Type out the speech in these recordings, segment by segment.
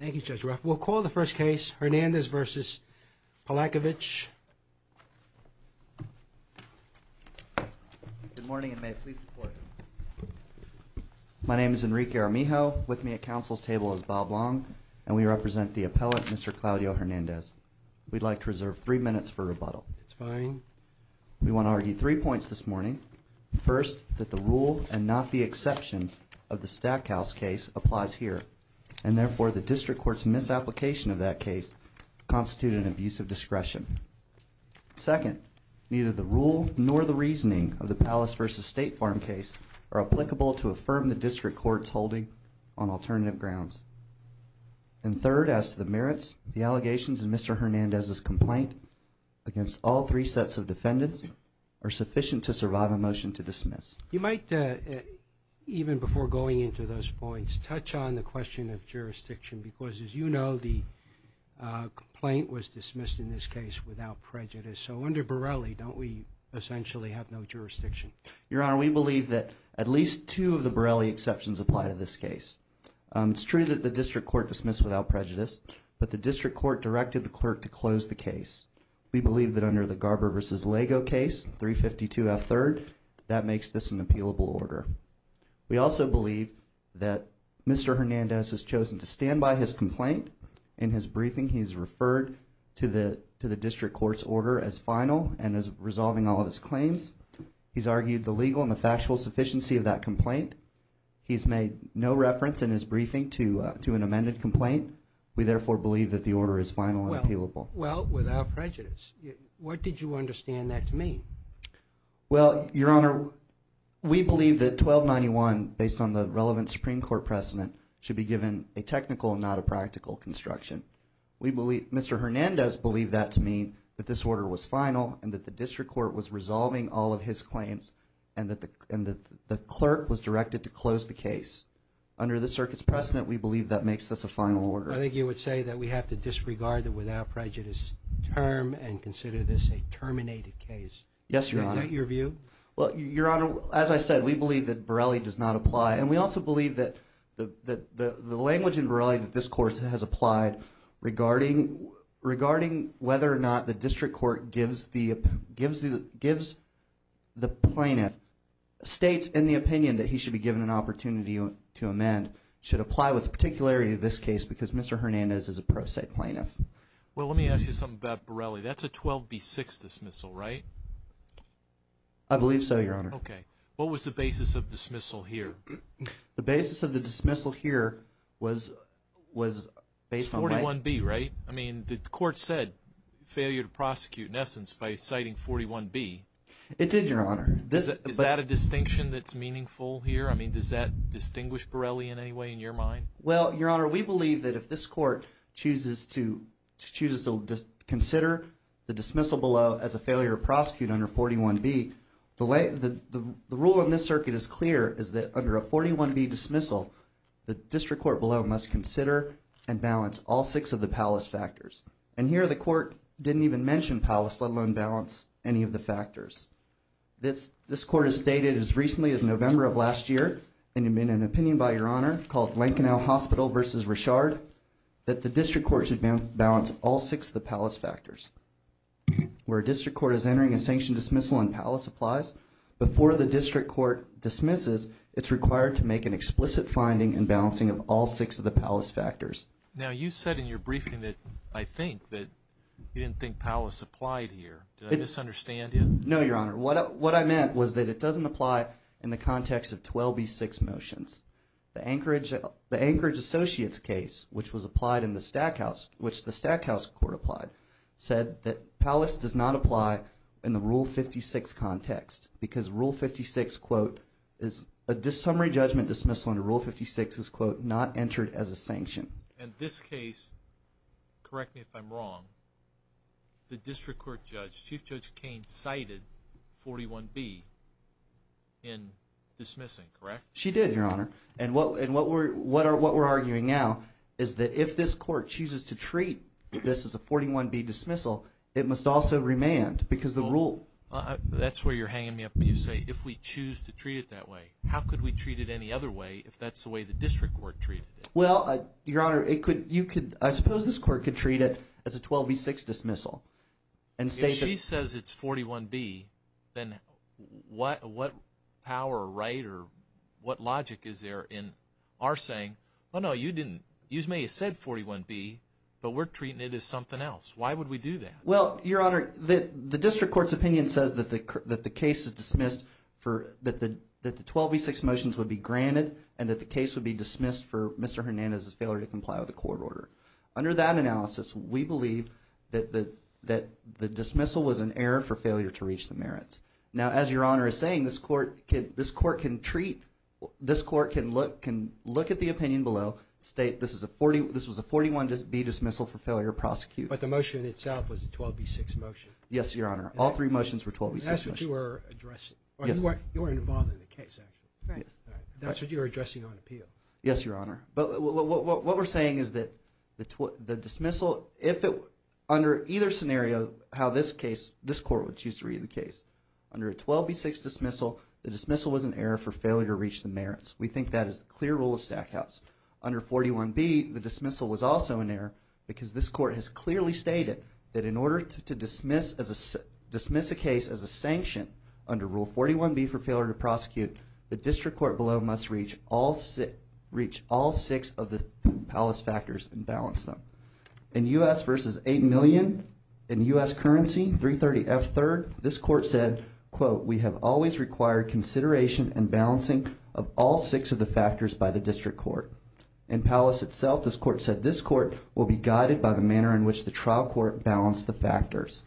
Thank you, Judge Ruff. We'll call the first case, Hernandez v. Palakovich. Good morning, and may it please the Court. My name is Enrique Armijo. With me at Council's table is Bob Long, and we represent the appellate, Mr. Claudio Hernandez. We'd like to reserve three minutes for rebuttal. It's fine. We want to argue three points this morning. First, that the rule and not the exception of the Stackhouse case applies here, and therefore the District Court's misapplication of that case constituted an abuse of discretion. Second, neither the rule nor the reasoning of the Palace v. State Farm case are applicable to affirm the District Court's holding on alternative grounds. And third, as to the merits, the allegations in Mr. Hernandez's complaint against all three sets of defendants are sufficient to survive a motion to dismiss. You might, even before going into those points, touch on the question of jurisdiction, because as you know, the complaint was dismissed in this case without prejudice. So under Borelli, don't we essentially have no jurisdiction? Your Honor, we believe that at least two of the Borelli exceptions apply to this case. It's true that the District Court dismissed without prejudice, but the District Court directed the clerk to close the case. We believe that under the Garber v. Lago case, 352F3rd, that makes this an appealable order. We also believe that Mr. Hernandez has chosen to stand by his complaint. In his briefing, he's referred to the District Court's order as final and is resolving all of his claims. He's argued the legal and the factual sufficiency of that complaint. He's made no reference in his briefing to an amended complaint. We therefore believe that the order is final and appealable. Well, without prejudice, what did you understand that to mean? Well, Your Honor, we believe that 1291, based on the relevant Supreme Court precedent, should be given a technical and not a practical construction. Mr. Hernandez believed that to mean that this order was final and that the District Court was resolving all of his claims and that the clerk was directed to close the case. Under the circuit's precedent, we believe that makes this a final order. I think you would say that we have to disregard the without prejudice term and consider this a terminated case. Yes, Your Honor. Is that your view? Well, Your Honor, as I said, we believe that Borelli does not apply, and we also believe that the language in Borelli that this Court has applied regarding whether or not the District Court gives the plaintiff states in the opinion that he should be given an opportunity to amend should apply with the particularity of this case because Mr. Hernandez is a pro se plaintiff. Well, let me ask you something about Borelli. That's a 12B6 dismissal, right? I believe so, Your Honor. Okay. What was the basis of dismissal here? The basis of the dismissal here was based on what? It's 41B, right? I mean, the Court said failure to prosecute in essence by citing 41B. It did, Your Honor. Is that a distinction that's meaningful here? I mean, does that distinguish Borelli in any way in your mind? Well, Your Honor, we believe that if this Court chooses to consider the dismissal below as a failure to prosecute under 41B, the rule in this circuit is clear, is that under a 41B dismissal, the District Court below must consider and balance all six of the palace factors. And here the Court didn't even mention palace, let alone balance any of the factors. This Court has stated as recently as November of last year in an opinion by Your Honor called Lankanau Hospital v. Richard that the District Court should balance all six of the palace factors. Where a District Court is entering a sanctioned dismissal and palace applies, before the District Court dismisses, it's required to make an explicit finding and balancing of all six of the palace factors. Now, you said in your briefing that I think that you didn't think palace applied here. Did I misunderstand you? No, Your Honor. What I meant was that it doesn't apply in the context of 12B6 motions. The Anchorage Associates case, which the Stackhouse Court applied, said that palace does not apply in the Rule 56 context because Rule 56, quote, a summary judgment dismissal under Rule 56 is, quote, not entered as a sanction. And this case, correct me if I'm wrong, the District Court judge, Chief Judge Cain, cited 41B in dismissing, correct? She did, Your Honor. And what we're arguing now is that if this court chooses to treat this as a 41B dismissal, it must also remand because the rule – That's where you're hanging me up when you say if we choose to treat it that way. How could we treat it any other way if that's the way the District Court treated it? Well, Your Honor, it could – you could – I suppose this court could treat it as a 12B6 dismissal and state that – what logic is there in our saying, oh, no, you didn't – you may have said 41B, but we're treating it as something else. Why would we do that? Well, Your Honor, the District Court's opinion says that the case is dismissed for – that the 12B6 motions would be granted and that the case would be dismissed for Mr. Hernandez's failure to comply with the court order. Under that analysis, we believe that the dismissal was an error for failure to reach the merits. Now, as Your Honor is saying, this court can treat – this court can look at the opinion below, state this was a 41B dismissal for failure to prosecute. But the motion itself was a 12B6 motion. Yes, Your Honor. All three motions were 12B6 motions. That's what you were addressing. Yes. You were involved in the case, actually. Right. That's what you were addressing on appeal. Yes, Your Honor. But what we're saying is that the dismissal – if it – under either scenario, how this case – this court would choose to read the case. Under a 12B6 dismissal, the dismissal was an error for failure to reach the merits. We think that is the clear rule of Stackhouse. Under 41B, the dismissal was also an error because this court has clearly stated that in order to dismiss as a – dismiss a case as a sanction under Rule 41B for failure to prosecute, the district court below must reach all – reach all six of the palace factors and balance them. In U.S. versus $8 million, in U.S. currency, 330F3rd, this court said, quote, we have always required consideration and balancing of all six of the factors by the district court. In palace itself, this court said this court will be guided by the manner in which the trial court balanced the factors.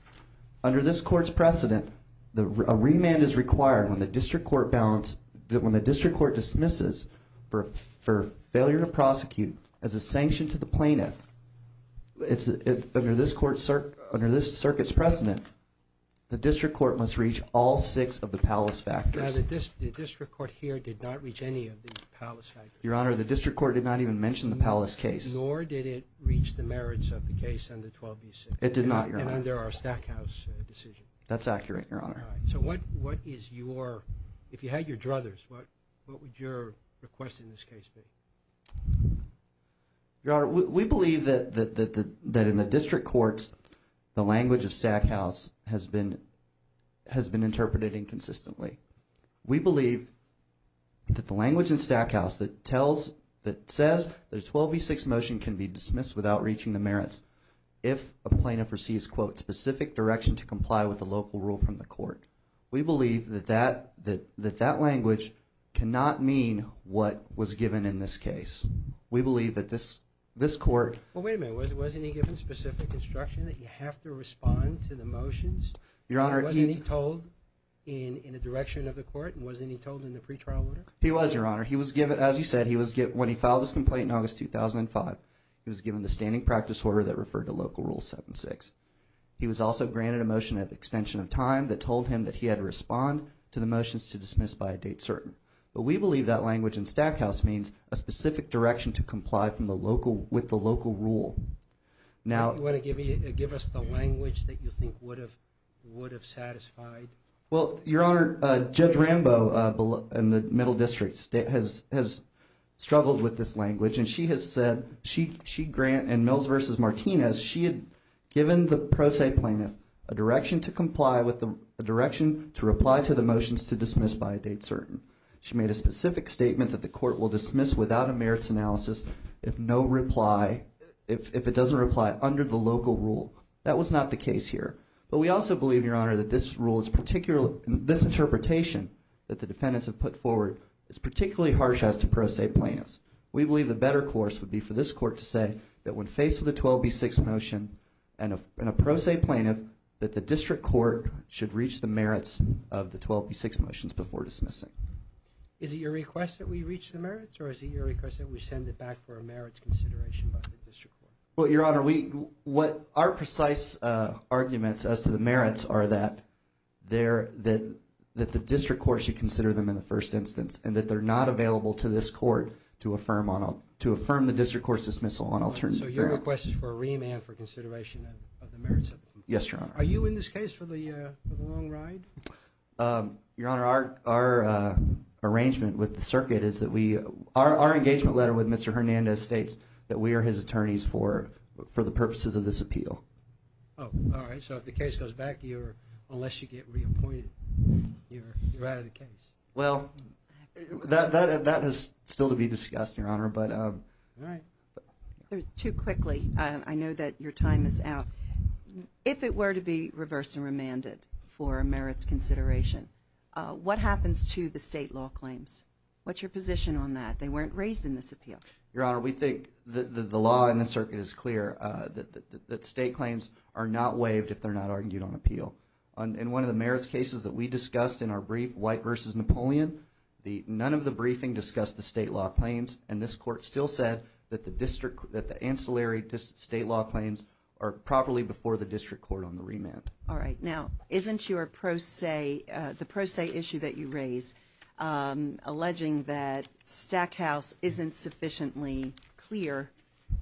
Under this court's precedent, a remand is required when the district court balanced – when the district court dismisses for failure to prosecute as a sanction to the plaintiff. It's – under this court – under this circuit's precedent, the district court must reach all six of the palace factors. Now, the district court here did not reach any of the palace factors. Your Honor, the district court did not even mention the palace case. Nor did it reach the merits of the case under 12B6. It did not, Your Honor. And under our Stackhouse decision. That's accurate, Your Honor. So what is your – if you had your druthers, what would your request in this case be? Your Honor, we believe that in the district courts, the language of Stackhouse has been – has been interpreted inconsistently. We believe that the language in Stackhouse that tells – that says that a 12B6 motion can be dismissed without reaching the merits if a plaintiff receives, quote, specific direction to comply with the local rule from the court. We believe that that – that that language cannot mean what was given in this case. We believe that this – this court – Well, wait a minute. Wasn't he given specific instruction that you have to respond to the motions? Your Honor, he – Was he told in the direction of the court? And wasn't he told in the pretrial order? He was, Your Honor. He was given – as you said, he was given – when he filed his complaint in August 2005, he was given the standing practice order that referred to Local Rule 7-6. He was also granted a motion of extension of time that told him that he had to respond to the motions to dismiss by a date certain. But we believe that language in Stackhouse means a specific direction to comply from the local – with the local rule. Now – Do you want to give me – give us the language that you think would have – would have satisfied? Well, Your Honor, Judge Rambo in the Middle District has struggled with this language, and she has said she – she – and Mills v. Martinez, she had given the pro se plaintiff a direction to comply with the – a direction to reply to the motions to dismiss by a date certain. She made a specific statement that the court will dismiss without a merits analysis if no reply – if it doesn't reply under the local rule. That was not the case here. But we also believe, Your Honor, that this rule is particularly – this interpretation that the defendants have put forward is particularly harsh as to pro se plaintiffs. We believe the better course would be for this court to say that when faced with a 12b-6 motion and a pro se plaintiff, that the district court should reach the merits of the 12b-6 motions before dismissing. Is it your request that we reach the merits, or is it your request that we send it back for a merits consideration by the district court? Well, Your Honor, we – what our precise arguments as to the merits are that they're – that the district court should consider them in the first instance and that they're not available to this court to affirm on – to affirm the district court's dismissal on alternative grounds. So your request is for a remand for consideration of the merits of them? Yes, Your Honor. Are you in this case for the long ride? Your Honor, our arrangement with the circuit is that we – our engagement letter with Mr. Hernandez states that we are his attorneys for the purposes of this appeal. Oh, all right. So if the case goes back, you're – unless you get reappointed, you're out of the case. Well, that is still to be discussed, Your Honor, but – All right. Too quickly. I know that your time is out. If it were to be reversed and remanded for merits consideration, what happens to the state law claims? What's your position on that? They weren't raised in this appeal. Your Honor, we think the law in the circuit is clear, that state claims are not waived if they're not argued on appeal. In one of the merits cases that we discussed in our brief, White v. Napoleon, the – none of the briefing discussed the state law claims, and this Court still said that the district – that the ancillary state law claims are properly before the district court on the remand. All right. Now, isn't your pro se – the pro se issue that you raise alleging that Stackhouse isn't sufficiently clear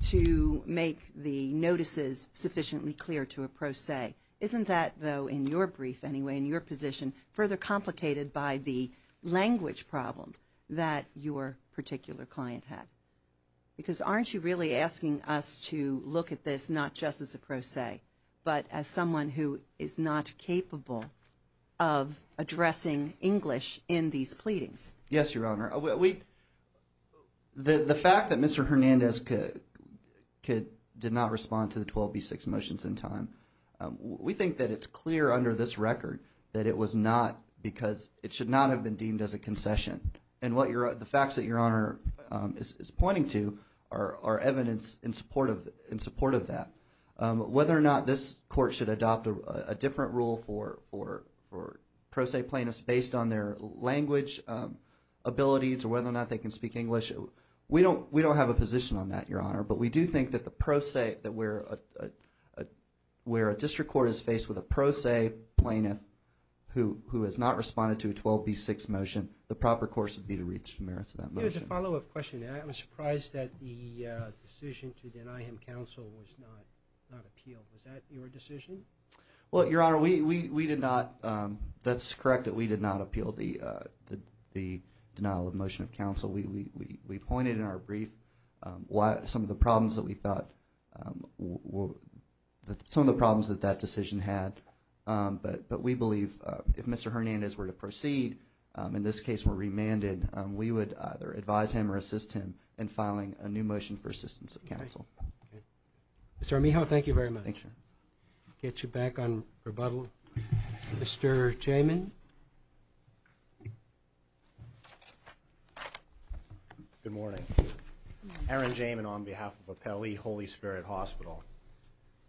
to make the notices sufficiently clear to a pro se? Isn't that, though, in your brief anyway, in your position, further complicated by the language problem that your particular client had? Because aren't you really asking us to look at this not just as a pro se, but as someone who is not capable of addressing English in these pleadings? Yes, Your Honor. We – the fact that Mr. Hernandez did not respond to the 12B6 motions in time, we think that it's clear under this record that it was not because it should not have been deemed as a concession. And what your – the facts that Your Honor is pointing to are evidence in support of that. Whether or not this Court should adopt a different rule for pro se plaintiffs based on their language abilities or whether or not they can speak English, we don't have a position on that, Your Honor. But we do think that the pro se – that where a district court is faced with a pro se plaintiff who has not responded to a 12B6 motion, the proper course would be to reach the merits of that motion. Let me ask you as a follow-up question. I was surprised that the decision to deny him counsel was not appealed. Was that your decision? Well, Your Honor, we did not – that's correct that we did not appeal the denial of motion of counsel. We pointed in our brief some of the problems that we thought – some of the problems that that decision had. But we believe if Mr. Hernandez were to proceed, in this case were remanded, we would either advise him or assist him in filing a new motion for assistance of counsel. Okay. Mr. Amijo, thank you very much. Thank you, Your Honor. I'll get you back on rebuttal. Mr. Jamin. Good morning. Aaron Jamin on behalf of Appellee Holy Spirit Hospital.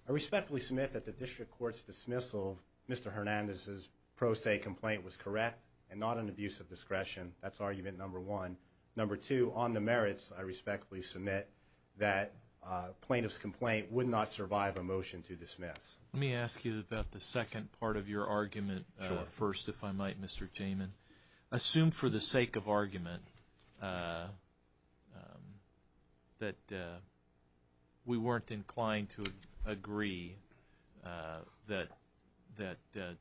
I respectfully submit that the district court's dismissal of Mr. Hernandez's pro se complaint was correct and not an abuse of discretion. That's argument number one. Number two, on the merits, I respectfully submit that plaintiff's complaint would not survive a motion to dismiss. Let me ask you about the second part of your argument first, if I might, Mr. Jamin. Assume for the sake of argument that we weren't inclined to agree that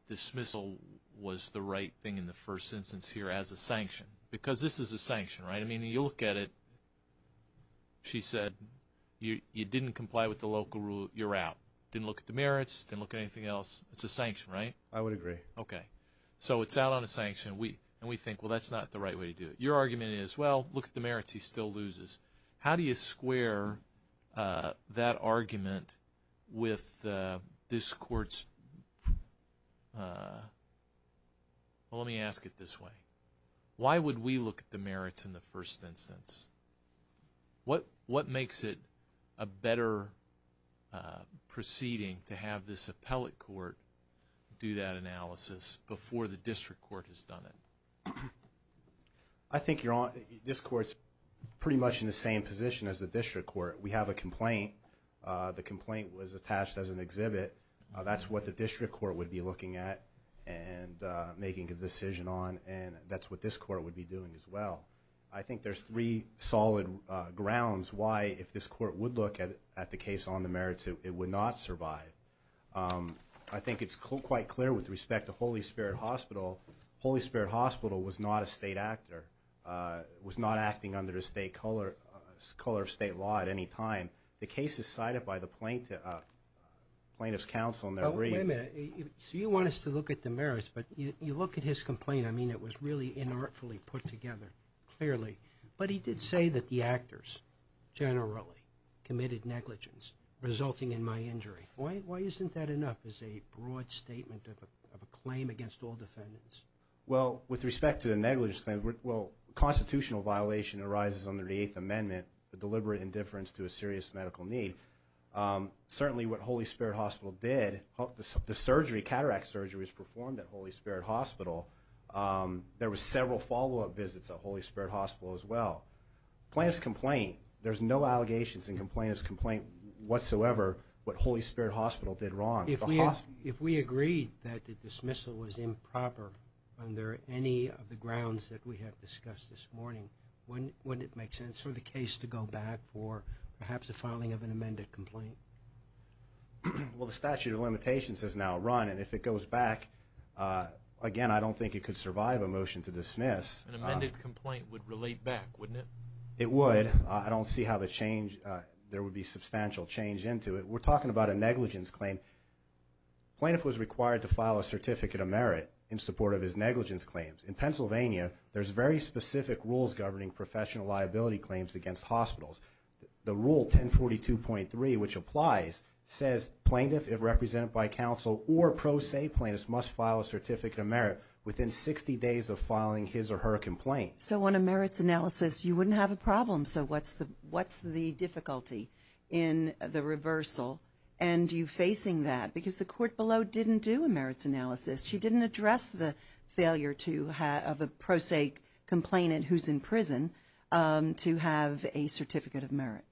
dismissal was the right thing in the first instance here as a sanction. Because this is a sanction, right? I mean, you look at it, she said you didn't comply with the local rule, you're out. Didn't look at the merits, didn't look at anything else. It's a sanction, right? I would agree. Okay. So it's out on a sanction and we think, well, that's not the right way to do it. Your argument is, well, look at the merits, he still loses. How do you square that argument with this court's, well, let me ask it this way. Why would we look at the merits in the first instance? What makes it a better proceeding to have this appellate court do that analysis before the district court has done it? I think this court's pretty much in the same position as the district court. We have a complaint. The complaint was attached as an exhibit. That's what the district court would be looking at and making a decision on, and that's what this court would be doing as well. I think there's three solid grounds why, if this court would look at the case on the merits, it would not survive. I think it's quite clear with respect to Holy Spirit Hospital. Holy Spirit Hospital was not a state actor, was not acting under the state color of state law at any time. The case is cited by the plaintiff's counsel in their brief. Wait a minute. So you want us to look at the merits, but you look at his complaint. I mean, it was really inartfully put together, clearly. But he did say that the actors generally committed negligence, resulting in my injury. Why isn't that enough as a broad statement of a claim against all defendants? Well, with respect to the negligence claim, well, constitutional violation arises under the Eighth Amendment, the deliberate indifference to a serious medical need. Certainly what Holy Spirit Hospital did, the surgery, cataract surgery was performed at Holy Spirit Hospital. There were several follow-up visits at Holy Spirit Hospital as well. Plaintiff's complaint, there's no allegations in the plaintiff's complaint whatsoever what Holy Spirit Hospital did wrong. If we agreed that the dismissal was improper under any of the grounds that we have discussed this morning, wouldn't it make sense for the case to go back for perhaps the filing of an amended complaint? Well, the statute of limitations has now run, and if it goes back, again, I don't think it could survive a motion to dismiss. An amended complaint would relate back, wouldn't it? It would. I don't see how there would be substantial change into it. We're talking about a negligence claim. The plaintiff was required to file a certificate of merit in support of his negligence claims. In Pennsylvania, there's very specific rules governing professional liability claims against hospitals. The rule 1042.3, which applies, says plaintiff, if represented by counsel or pro se plaintiffs, must file a certificate of merit within 60 days of filing his or her complaint. So on a merits analysis, you wouldn't have a problem. So what's the difficulty in the reversal and you facing that? Because the court below didn't do a merits analysis. She didn't address the failure of a pro se complainant who's in prison to have a certificate of merit.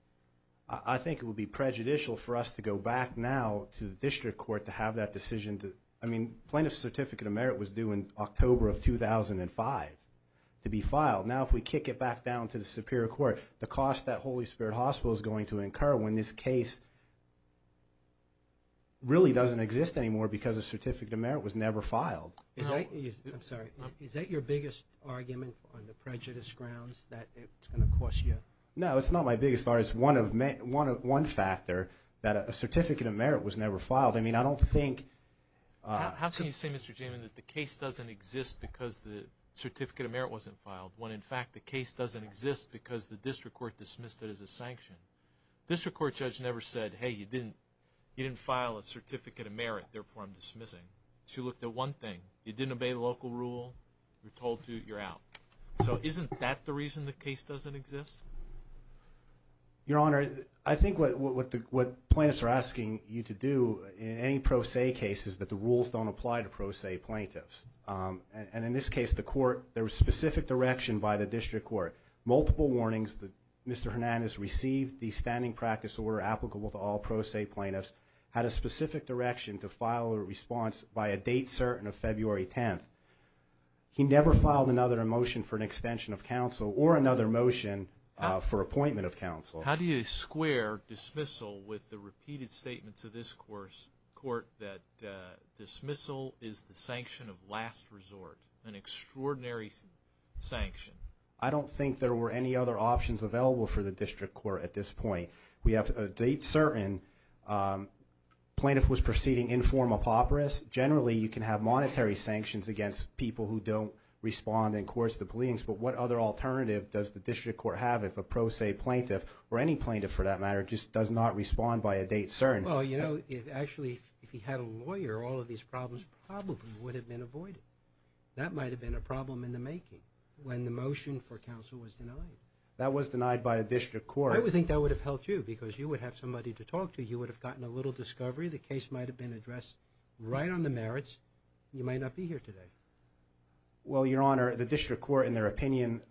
I think it would be prejudicial for us to go back now to the district court to have that decision. I mean, plaintiff's certificate of merit was due in October of 2005 to be filed. Now if we kick it back down to the superior court, the cost that Holy Spirit Hospital is going to incur when this case really doesn't exist anymore because a certificate of merit was never filed. I'm sorry. Is that your biggest argument on the prejudice grounds that it's going to cost you? No, it's not my biggest argument. It's one factor that a certificate of merit was never filed. I mean, I don't think. How can you say, Mr. Jamin, that the case doesn't exist because the certificate of merit wasn't filed when, in fact, the case doesn't exist because the district court dismissed it as a sanction? District court judge never said, hey, you didn't file a certificate of merit. Therefore, I'm dismissing. She looked at one thing. You didn't obey the local rule. You're told to. You're out. So isn't that the reason the case doesn't exist? Your Honor, I think what plaintiffs are asking you to do in any pro se case is that the rules don't apply to pro se plaintiffs. And in this case, there was specific direction by the district court, multiple warnings that Mr. Hernandez received the standing practice order applicable to all pro se plaintiffs, had a specific direction to file a response by a date certain of February 10th. He never filed another motion for an extension of counsel or another motion for appointment of counsel. How do you square dismissal with the repeated statements of this court that dismissal is the sanction of last resort, an extraordinary sanction? I don't think there were any other options available for the district court at this point. We have a date certain. Plaintiff was proceeding in form of operas. Generally, you can have monetary sanctions against people who don't respond in courts to pleadings. But what other alternative does the district court have if a pro se plaintiff or any plaintiff, for that matter, just does not respond by a date certain? Well, you know, actually, if he had a lawyer, all of these problems probably would have been avoided. That might have been a problem in the making. When the motion for counsel was denied. That was denied by a district court. I would think that would have helped you because you would have somebody to talk to. You would have gotten a little discovery. The case might have been addressed right on the merits. You might not be here today. Well, Your Honor, the district court, in their opinion,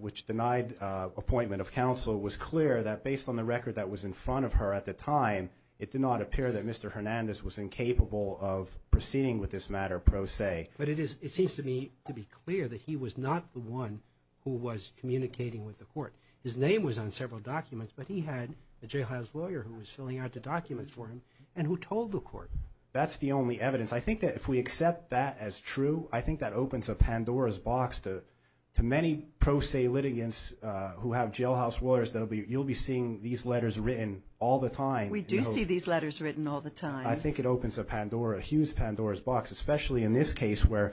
which denied appointment of counsel, was clear that based on the record that was in front of her at the time, it did not appear that Mr. Hernandez was incapable of proceeding with this matter pro se. But it seems to me to be clear that he was not the one who was communicating with the court. His name was on several documents, but he had a jailhouse lawyer who was filling out the documents for him and who told the court. That's the only evidence. I think that if we accept that as true, I think that opens a Pandora's box to many pro se litigants who have jailhouse lawyers that you'll be seeing these letters written all the time. We do see these letters written all the time. I think it opens a huge Pandora's box, especially in this case where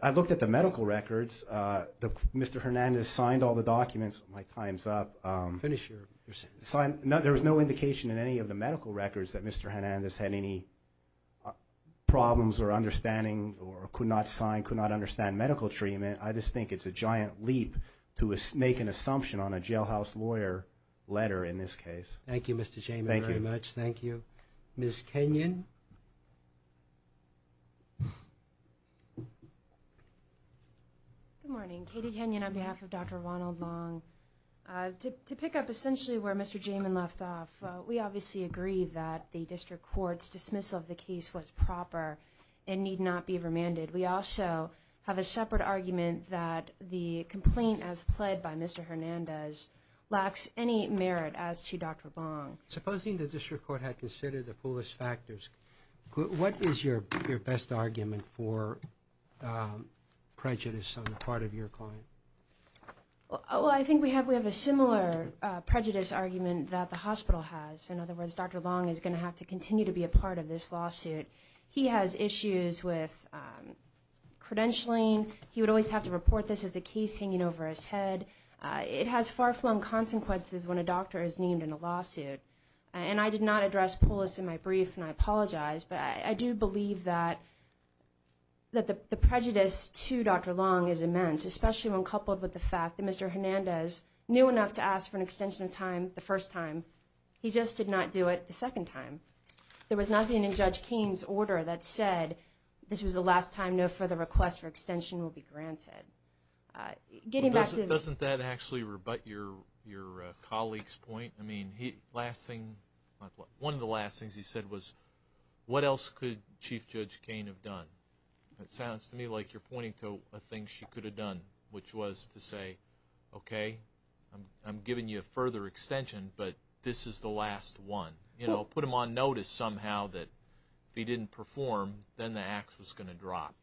I looked at the medical records. Mr. Hernandez signed all the documents. My time's up. Finish your sentence. There was no indication in any of the medical records that Mr. Hernandez had any problems or understanding or could not sign, could not understand medical treatment. I just think it's a giant leap to make an assumption on a jailhouse lawyer letter in this case. Thank you, Mr. Jamin, very much. Thank you. Ms. Kenyon. Good morning. Katie Kenyon on behalf of Dr. Ronald Long. To pick up essentially where Mr. Jamin left off, we obviously agree that the district court's dismissal of the case was proper and need not be remanded. We also have a separate argument that the complaint as pled by Mr. Hernandez lacks any merit as to Dr. Long. Supposing the district court had considered the fullest factors, what is your best argument for prejudice on the part of your client? Well, I think we have a similar prejudice argument that the hospital has. In other words, Dr. Long is going to have to continue to be a part of this lawsuit. He has issues with credentialing. He would always have to report this as a case hanging over his head. It has far-flung consequences when a doctor is named in a lawsuit. And I did not address Pulis in my brief, and I apologize, but I do believe that the prejudice to Dr. Long is immense, especially when coupled with the fact that Mr. Hernandez knew enough to ask for an extension of time the first time. He just did not do it the second time. There was nothing in Judge Keene's order that said this was the last time no further request for extension will be granted. Doesn't that actually rebut your colleague's point? I mean, one of the last things he said was, what else could Chief Judge Keene have done? It sounds to me like you're pointing to a thing she could have done, which was to say, okay, I'm giving you a further extension, but this is the last one. You know, put him on notice somehow that if he didn't perform, then the ax was going to drop.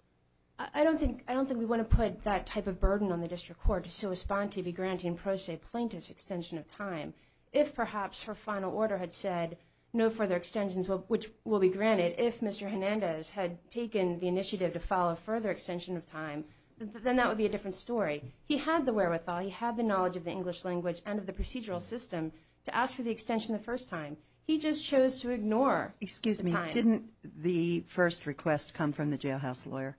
I don't think we want to put that type of burden on the district court to so respond to be granting pro se plaintiff's extension of time. If perhaps her final order had said no further extensions which will be granted, if Mr. Hernandez had taken the initiative to follow a further extension of time, then that would be a different story. He had the wherewithal, he had the knowledge of the English language and of the procedural system to ask for the extension the first time. He just chose to ignore the time. But didn't the first request come from the jailhouse lawyer?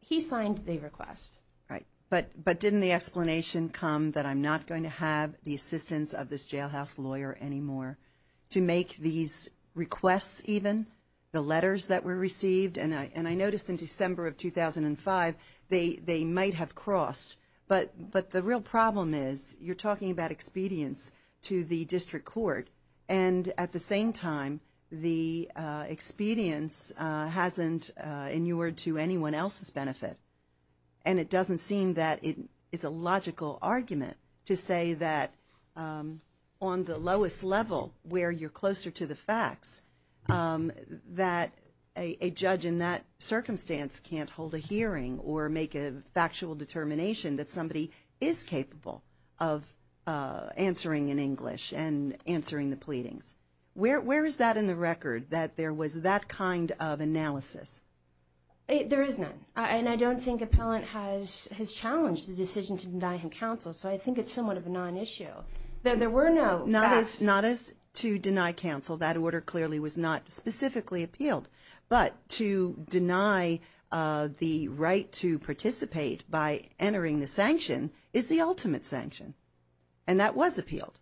He signed the request. Right. But didn't the explanation come that I'm not going to have the assistance of this jailhouse lawyer anymore to make these requests even, the letters that were received? And I noticed in December of 2005 they might have crossed. But the real problem is you're talking about expedience to the district court. And at the same time, the expedience hasn't inured to anyone else's benefit. And it doesn't seem that it's a logical argument to say that on the lowest level where you're closer to the facts, that a judge in that circumstance can't hold a hearing or make a factual determination that somebody is capable of answering in English and answering the pleadings. Where is that in the record, that there was that kind of analysis? There is none. And I don't think appellant has challenged the decision to deny him counsel. So I think it's somewhat of a non-issue. There were no facts. Not as to deny counsel. That order clearly was not specifically appealed. But to deny the right to participate by entering the sanction is the ultimate sanction. And that was appealed.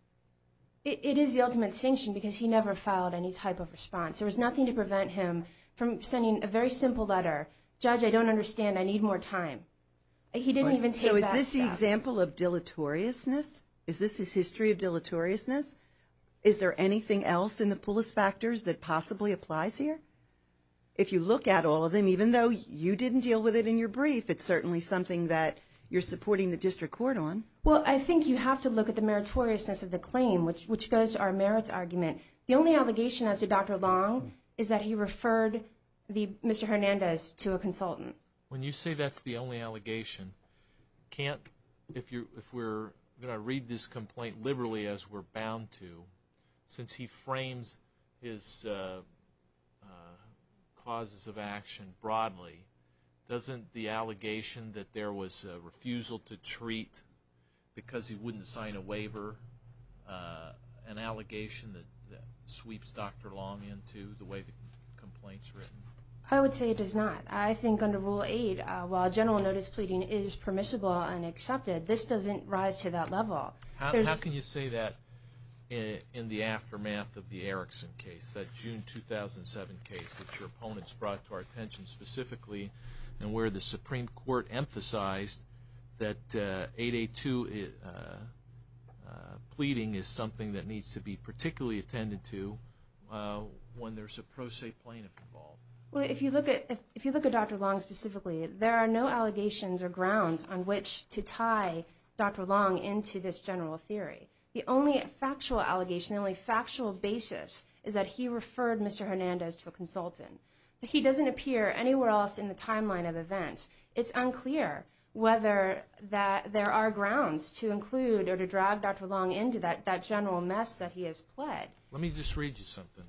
It is the ultimate sanction because he never filed any type of response. There was nothing to prevent him from sending a very simple letter. Judge, I don't understand. I need more time. He didn't even take back that. So is this the example of deleteriousness? Is this his history of deleteriousness? Is there anything else in the Pullis Factors that possibly applies here? If you look at all of them, even though you didn't deal with it in your brief, it's certainly something that you're supporting the district court on. Well, I think you have to look at the meritoriousness of the claim, which goes to our merits argument. The only allegation as to Dr. Long is that he referred Mr. Hernandez to a consultant. When you say that's the only allegation, if we're going to read this complaint liberally as we're bound to, since he frames his causes of action broadly, doesn't the allegation that there was a refusal to treat because he wouldn't sign a waiver, an allegation that sweeps Dr. Long into the way the complaint's written? I would say it does not. I think under Rule 8, while general notice pleading is permissible and accepted, this doesn't rise to that level. How can you say that in the aftermath of the Erickson case, that June 2007 case, that your opponents brought to our attention specifically, and where the Supreme Court emphasized that 882 pleading is something that needs to be particularly attended to when there's a pro se plaintiff involved? Well, if you look at Dr. Long specifically, there are no allegations or grounds on which to tie Dr. Long into this general theory. The only factual allegation, the only factual basis, is that he referred Mr. Hernandez to a consultant. He doesn't appear anywhere else in the timeline of events. It's unclear whether there are grounds to include or to drag Dr. Long into that general mess that he has pled. Let me just read you something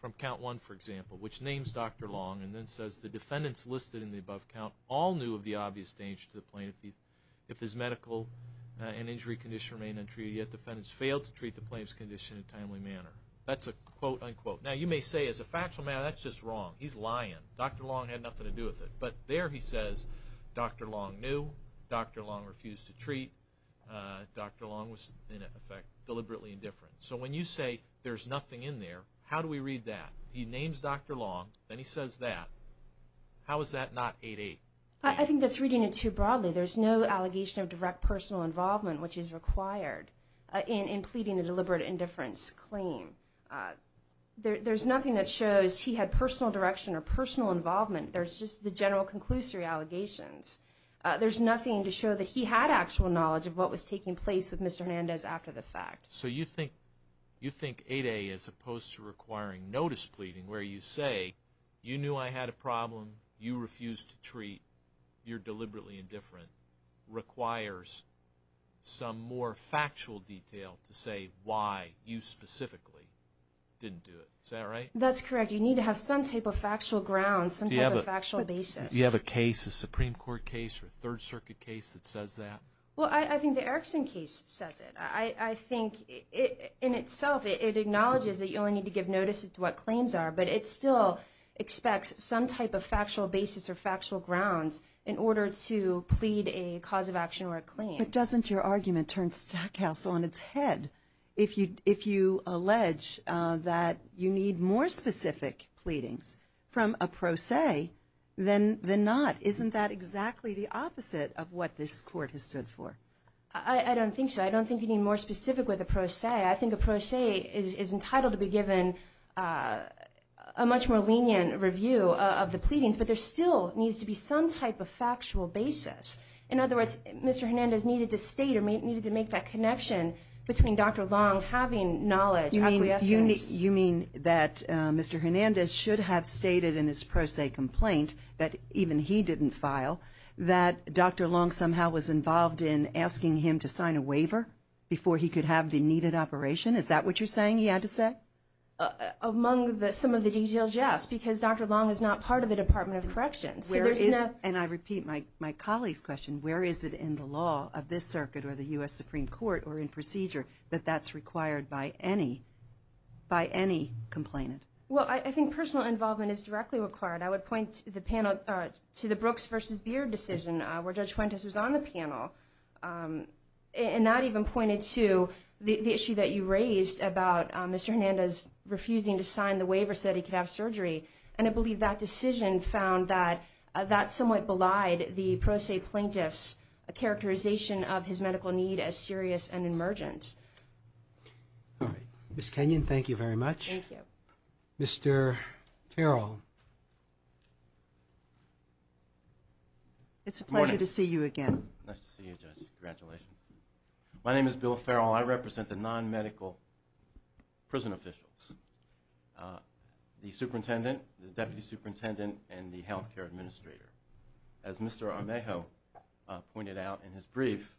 from Count 1, for example, which names Dr. Long and then says, The defendants listed in the above count all knew of the obvious danger to the plaintiff if his medical and injury condition remained untreated, yet defendants failed to treat the plaintiff's condition in a timely manner. That's a quote, unquote. Now, you may say, as a factual matter, that's just wrong. He's lying. Dr. Long had nothing to do with it. But there he says Dr. Long knew, Dr. Long refused to treat, Dr. Long was, in effect, deliberately indifferent. So when you say there's nothing in there, how do we read that? He names Dr. Long, then he says that. How is that not 8-8? I think that's reading it too broadly. There's no allegation of direct personal involvement, which is required, in pleading a deliberate indifference claim. There's nothing that shows he had personal direction or personal involvement. There's just the general conclusory allegations. There's nothing to show that he had actual knowledge of what was taking place with Mr. Hernandez after the fact. So you think 8-8, as opposed to requiring notice pleading, where you say, you knew I had a problem, you refused to treat, you're deliberately indifferent, requires some more factual detail to say why you specifically didn't do it. Is that right? That's correct. You need to have some type of factual ground, some type of factual basis. Do you have a case, a Supreme Court case or a Third Circuit case that says that? Well, I think the Erickson case says it. I think in itself it acknowledges that you only need to give notice as to what claims are, but it still expects some type of factual basis or factual ground in order to plead a cause of action or a claim. But doesn't your argument turn Stackhouse on its head? If you allege that you need more specific pleadings from a pro se than not, isn't that exactly the opposite of what this Court has stood for? I don't think so. I don't think you need more specific with a pro se. I think a pro se is entitled to be given a much more lenient review of the pleadings, but there still needs to be some type of factual basis. In other words, Mr. Hernandez needed to state or needed to make that connection between Dr. Long having knowledge, acquiescence. You mean that Mr. Hernandez should have stated in his pro se complaint that even he didn't file, that Dr. Long somehow was involved in asking him to sign a waiver before he could have the needed operation? Is that what you're saying he had to say? Among some of the details, yes, because Dr. Long is not part of the Department of Corrections. And I repeat my colleague's question. Where is it in the law of this circuit or the U.S. Supreme Court or in procedure that that's required by any complainant? Well, I think personal involvement is directly required. I would point to the Brooks v. Beard decision where Judge Fuentes was on the panel and that even pointed to the issue that you raised about Mr. Hernandez refusing to sign the waiver so that he could have surgery. And I believe that decision found that that somewhat belied the pro se plaintiff's characterization of his medical need as serious and emergent. Ms. Kenyon, thank you very much. Thank you. Mr. Farrell. It's a pleasure to see you again. Nice to see you, Judge. Congratulations. My name is Bill Farrell. I represent the non-medical prison officials, the superintendent, the deputy superintendent, and the health care administrator. As Mr. Armejo pointed out in his brief,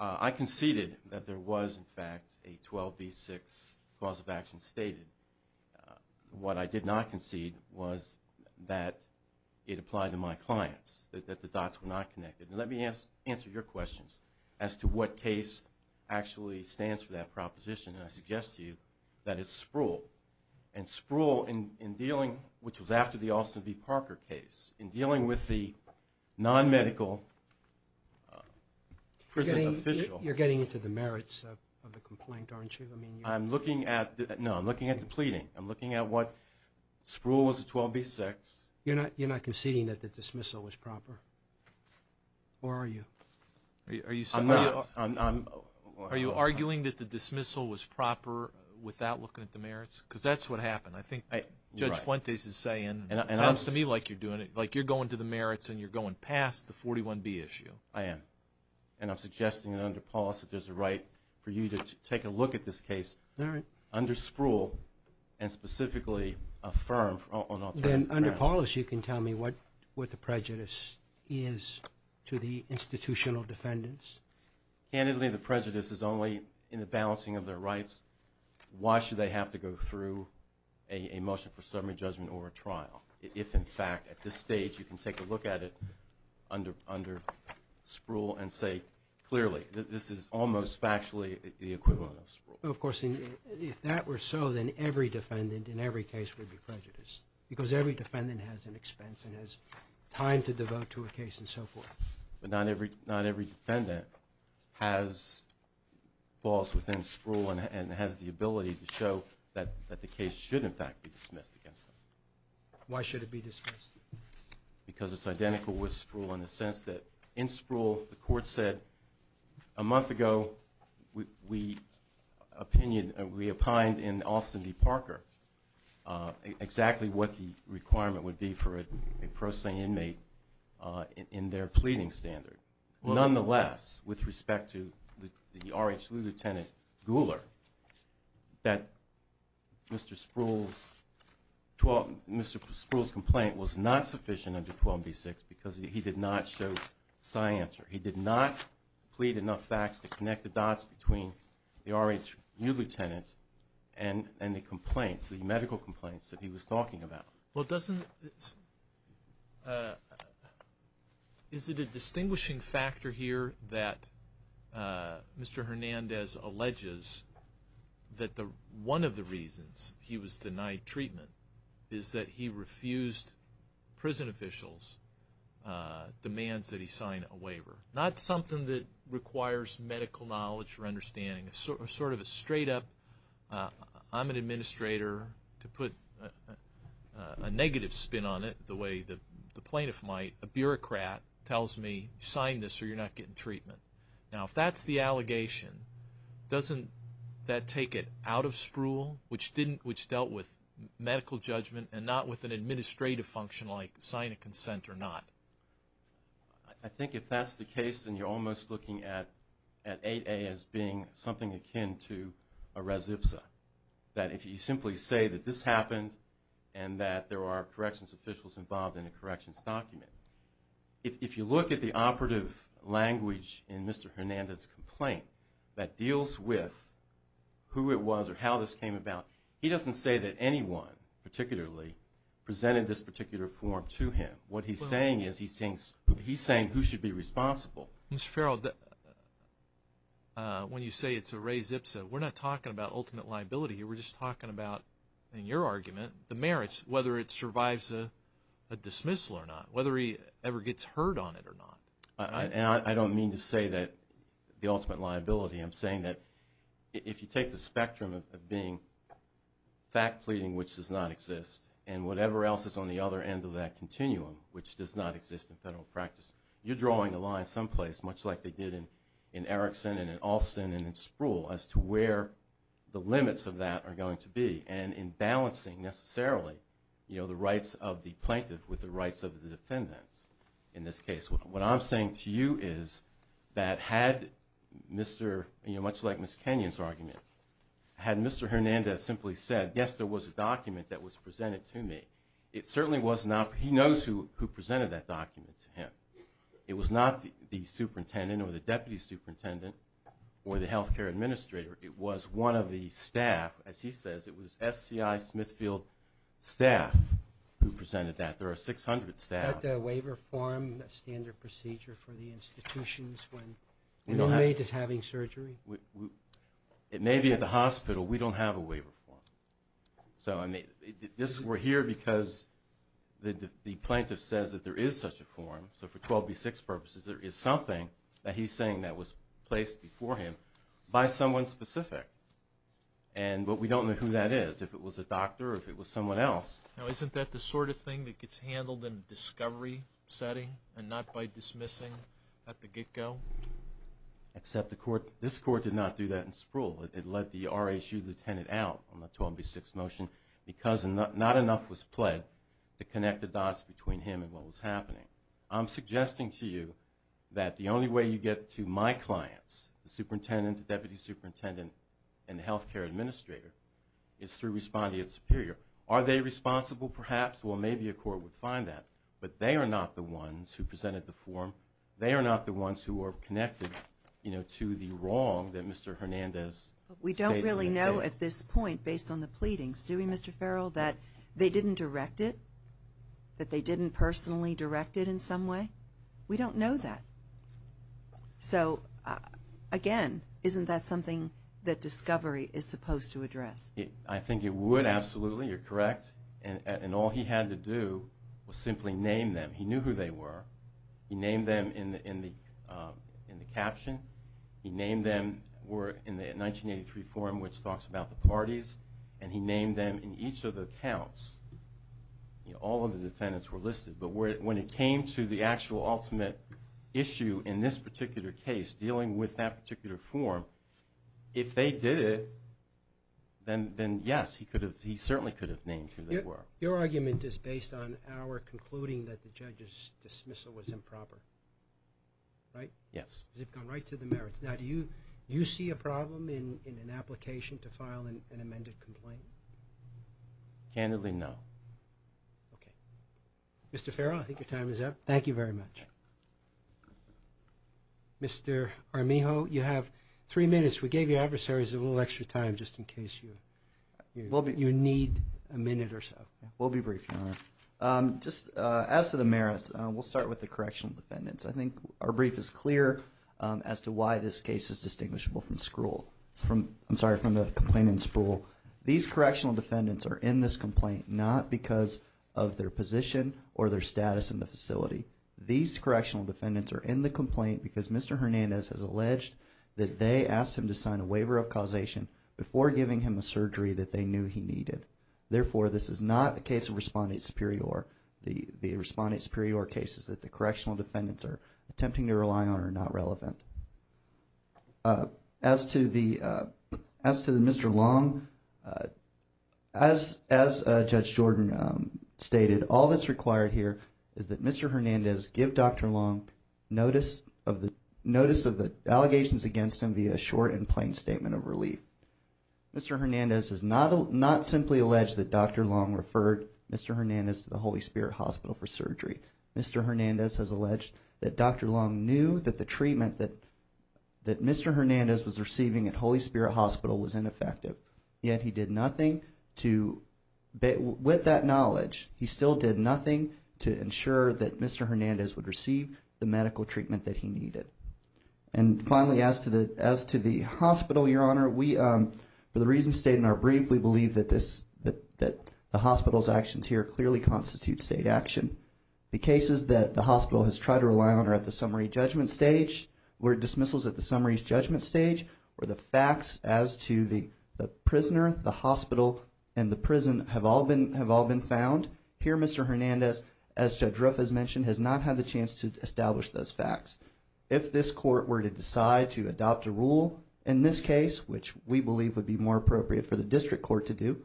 I conceded that there was, in fact, a 12B6 cause of action stated. What I did not concede was that it applied to my clients, that the dots were not connected. And let me answer your questions as to what case actually stands for that proposition. And I suggest to you that it's Spruill. And Spruill, in dealing, which was after the Austin v. Parker case, in dealing with the non-medical prison official. You're getting into the merits of the complaint, aren't you? I'm looking at the pleading. I'm looking at what Spruill was at 12B6. You're not conceding that the dismissal was proper, or are you? I'm not. Are you arguing that the dismissal was proper without looking at the merits? Because that's what happened. I think Judge Fuentes is saying, it sounds to me like you're doing it. Like you're going to the merits and you're going past the 41B issue. I am. And I'm suggesting under Paulus that there's a right for you to take a look at this case under Spruill and specifically affirm on all three grounds. Then under Paulus, you can tell me what the prejudice is to the institutional defendants? Candidly, the prejudice is only in the balancing of their rights. Why should they have to go through a motion for summary judgment or a trial if, in fact, at this stage, you can take a look at it under Spruill and say clearly that this is almost factually the equivalent of Spruill? Well, of course, if that were so, then every defendant in every case would be prejudiced because every defendant has an expense and has time to devote to a case and so forth. But not every defendant falls within Spruill and has the ability to show that the case should, in fact, be dismissed against them. Why should it be dismissed? Because it's identical with Spruill in the sense that in Spruill, the court said a month ago we opinioned and we opined in Austin v. Parker exactly what the requirement would be for a pro se inmate in their pleading standard. Nonetheless, with respect to the R.H. Lew Lieutenant Guler, that Mr. Spruill's complaint was not sufficient under 12b-6 because he did not show scienter. He did not plead enough facts to connect the dots between the R.H. Lew Lieutenant and the complaints, the medical complaints that he was talking about. Well, is it a distinguishing factor here that Mr. Hernandez alleges that one of the reasons he was denied treatment is that he refused prison officials' demands that he sign a waiver? Not something that requires medical knowledge or understanding. Sort of a straight up, I'm an administrator. To put a negative spin on it the way the plaintiff might, a bureaucrat tells me, sign this or you're not getting treatment. Now, if that's the allegation, doesn't that take it out of Spruill, which dealt with medical judgment and not with an administrative function like sign a consent or not? I think if that's the case, then you're almost looking at 8a as being something akin to a res ipsa. That if you simply say that this happened and that there are corrections officials involved in a corrections document. If you look at the operative language in Mr. Hernandez' complaint that deals with who it was or how this came about, he doesn't say that anyone particularly presented this particular form to him. What he's saying is he's saying who should be responsible. Mr. Ferrell, when you say it's a res ipsa, we're not talking about ultimate liability here. We're just talking about, in your argument, the merits, whether it survives a dismissal or not, whether he ever gets heard on it or not. I don't mean to say that the ultimate liability. I'm saying that if you take the spectrum of being fact pleading, which does not exist, and whatever else is on the other end of that continuum, which does not exist in federal practice, you're drawing a line someplace, much like they did in Erickson and in Alston and in Spruill, as to where the limits of that are going to be, and in balancing necessarily the rights of the plaintiff with the rights of the defendants in this case. What I'm saying to you is that had Mr., much like Ms. Kenyon's argument, had Mr. Hernandez simply said, yes, there was a document that was presented to me, he knows who presented that document to him. It was not the superintendent or the deputy superintendent or the health care administrator. It was one of the staff. As he says, it was SCI Smithfield staff who presented that. There are 600 staff. Is that the waiver form standard procedure for the institutions when the maid is having surgery? It may be at the hospital. We don't have a waiver form. We're here because the plaintiff says that there is such a form. So for 12b-6 purposes, there is something that he's saying that was placed before him by someone specific. But we don't know who that is, if it was a doctor or if it was someone else. Now, isn't that the sort of thing that gets handled in a discovery setting and not by dismissing at the get-go? Except this court did not do that in Sproul. It let the RSU lieutenant out on the 12b-6 motion because not enough was pled to connect the dots between him and what was happening. I'm suggesting to you that the only way you get to my clients, the superintendent, the deputy superintendent, and the health care administrator, is through responding to the superior. Are they responsible, perhaps? Well, maybe a court would find that. But they are not the ones who presented the form. They are not the ones who are connected to the wrong that Mr. Hernandez states. We don't really know at this point, based on the pleadings, do we, Mr. Farrell, that they didn't direct it, that they didn't personally direct it in some way? We don't know that. So, again, isn't that something that discovery is supposed to address? I think it would, absolutely. You're correct. And all he had to do was simply name them. He knew who they were. He named them in the caption. He named them in the 1983 form, which talks about the parties, and he named them in each of the accounts. All of the defendants were listed. But when it came to the actual ultimate issue in this particular case, dealing with that particular form, if they did it, then, yes, he certainly could have named who they were. Your argument is based on our concluding that the judge's dismissal was improper, right? Yes. Because it's gone right to the merits. Now, do you see a problem in an application to file an amended complaint? Candidly, no. Okay. Mr. Farrell, I think your time is up. Thank you very much. Mr. Armijo, you have three minutes. We gave your adversaries a little extra time just in case you need a minute or so. We'll be brief, Your Honor. Just as to the merits, we'll start with the correctional defendants. I think our brief is clear as to why this case is distinguishable from the complaint in Spruill. These correctional defendants are in this complaint not because of their position or their status in the facility. These correctional defendants are in the complaint because Mr. Hernandez has alleged that they asked him to sign a waiver of causation before giving him a surgery that they knew he needed. Therefore, this is not the case of Respondent Superior. The Respondent Superior cases that the correctional defendants are attempting to rely on are not relevant. As to Mr. Long, as Judge Jordan stated, all that's required here is that Mr. Hernandez give Dr. Long notice of the allegations against him via a short and plain statement of relief. Mr. Hernandez has not simply alleged that Dr. Long referred Mr. Hernandez to the Holy Spirit Hospital for surgery. Mr. Hernandez has alleged that Dr. Long knew that the treatment that Mr. Hernandez was receiving at Holy Spirit Hospital was ineffective. Yet he did nothing to, with that knowledge, he still did nothing to ensure that Mr. Hernandez would receive the medical treatment that he needed. And finally, as to the hospital, Your Honor, for the reasons stated in our brief, we believe that the hospital's actions here clearly constitute state action. The cases that the hospital has tried to rely on are at the summary judgment stage, or dismissals at the summary judgment stage, or the facts as to the prisoner, the hospital, and the prison have all been found. Here Mr. Hernandez, as Judge Ruff has mentioned, has not had the chance to establish those facts. If this court were to decide to adopt a rule in this case, which we believe would be more appropriate for the district court to do,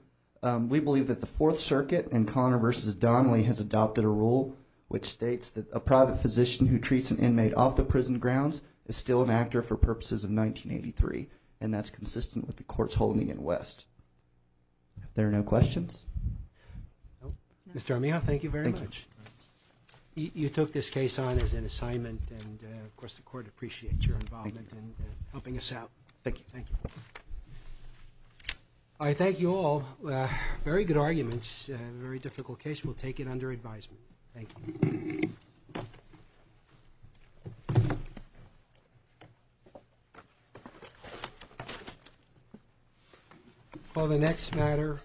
we believe that the Fourth Circuit in Connor v. Donnelly has adopted a rule which states that a private physician who treats an inmate off the prison grounds is still an actor for purposes of 1983. And that's consistent with the courts holding in West. If there are no questions. Mr. Armijo, thank you very much. You took this case on as an assignment, and of course the court appreciates your involvement in helping us out. Thank you. I thank you all. Very good arguments. Very difficult case. We'll take it under advisement. Thank you. For the next matter.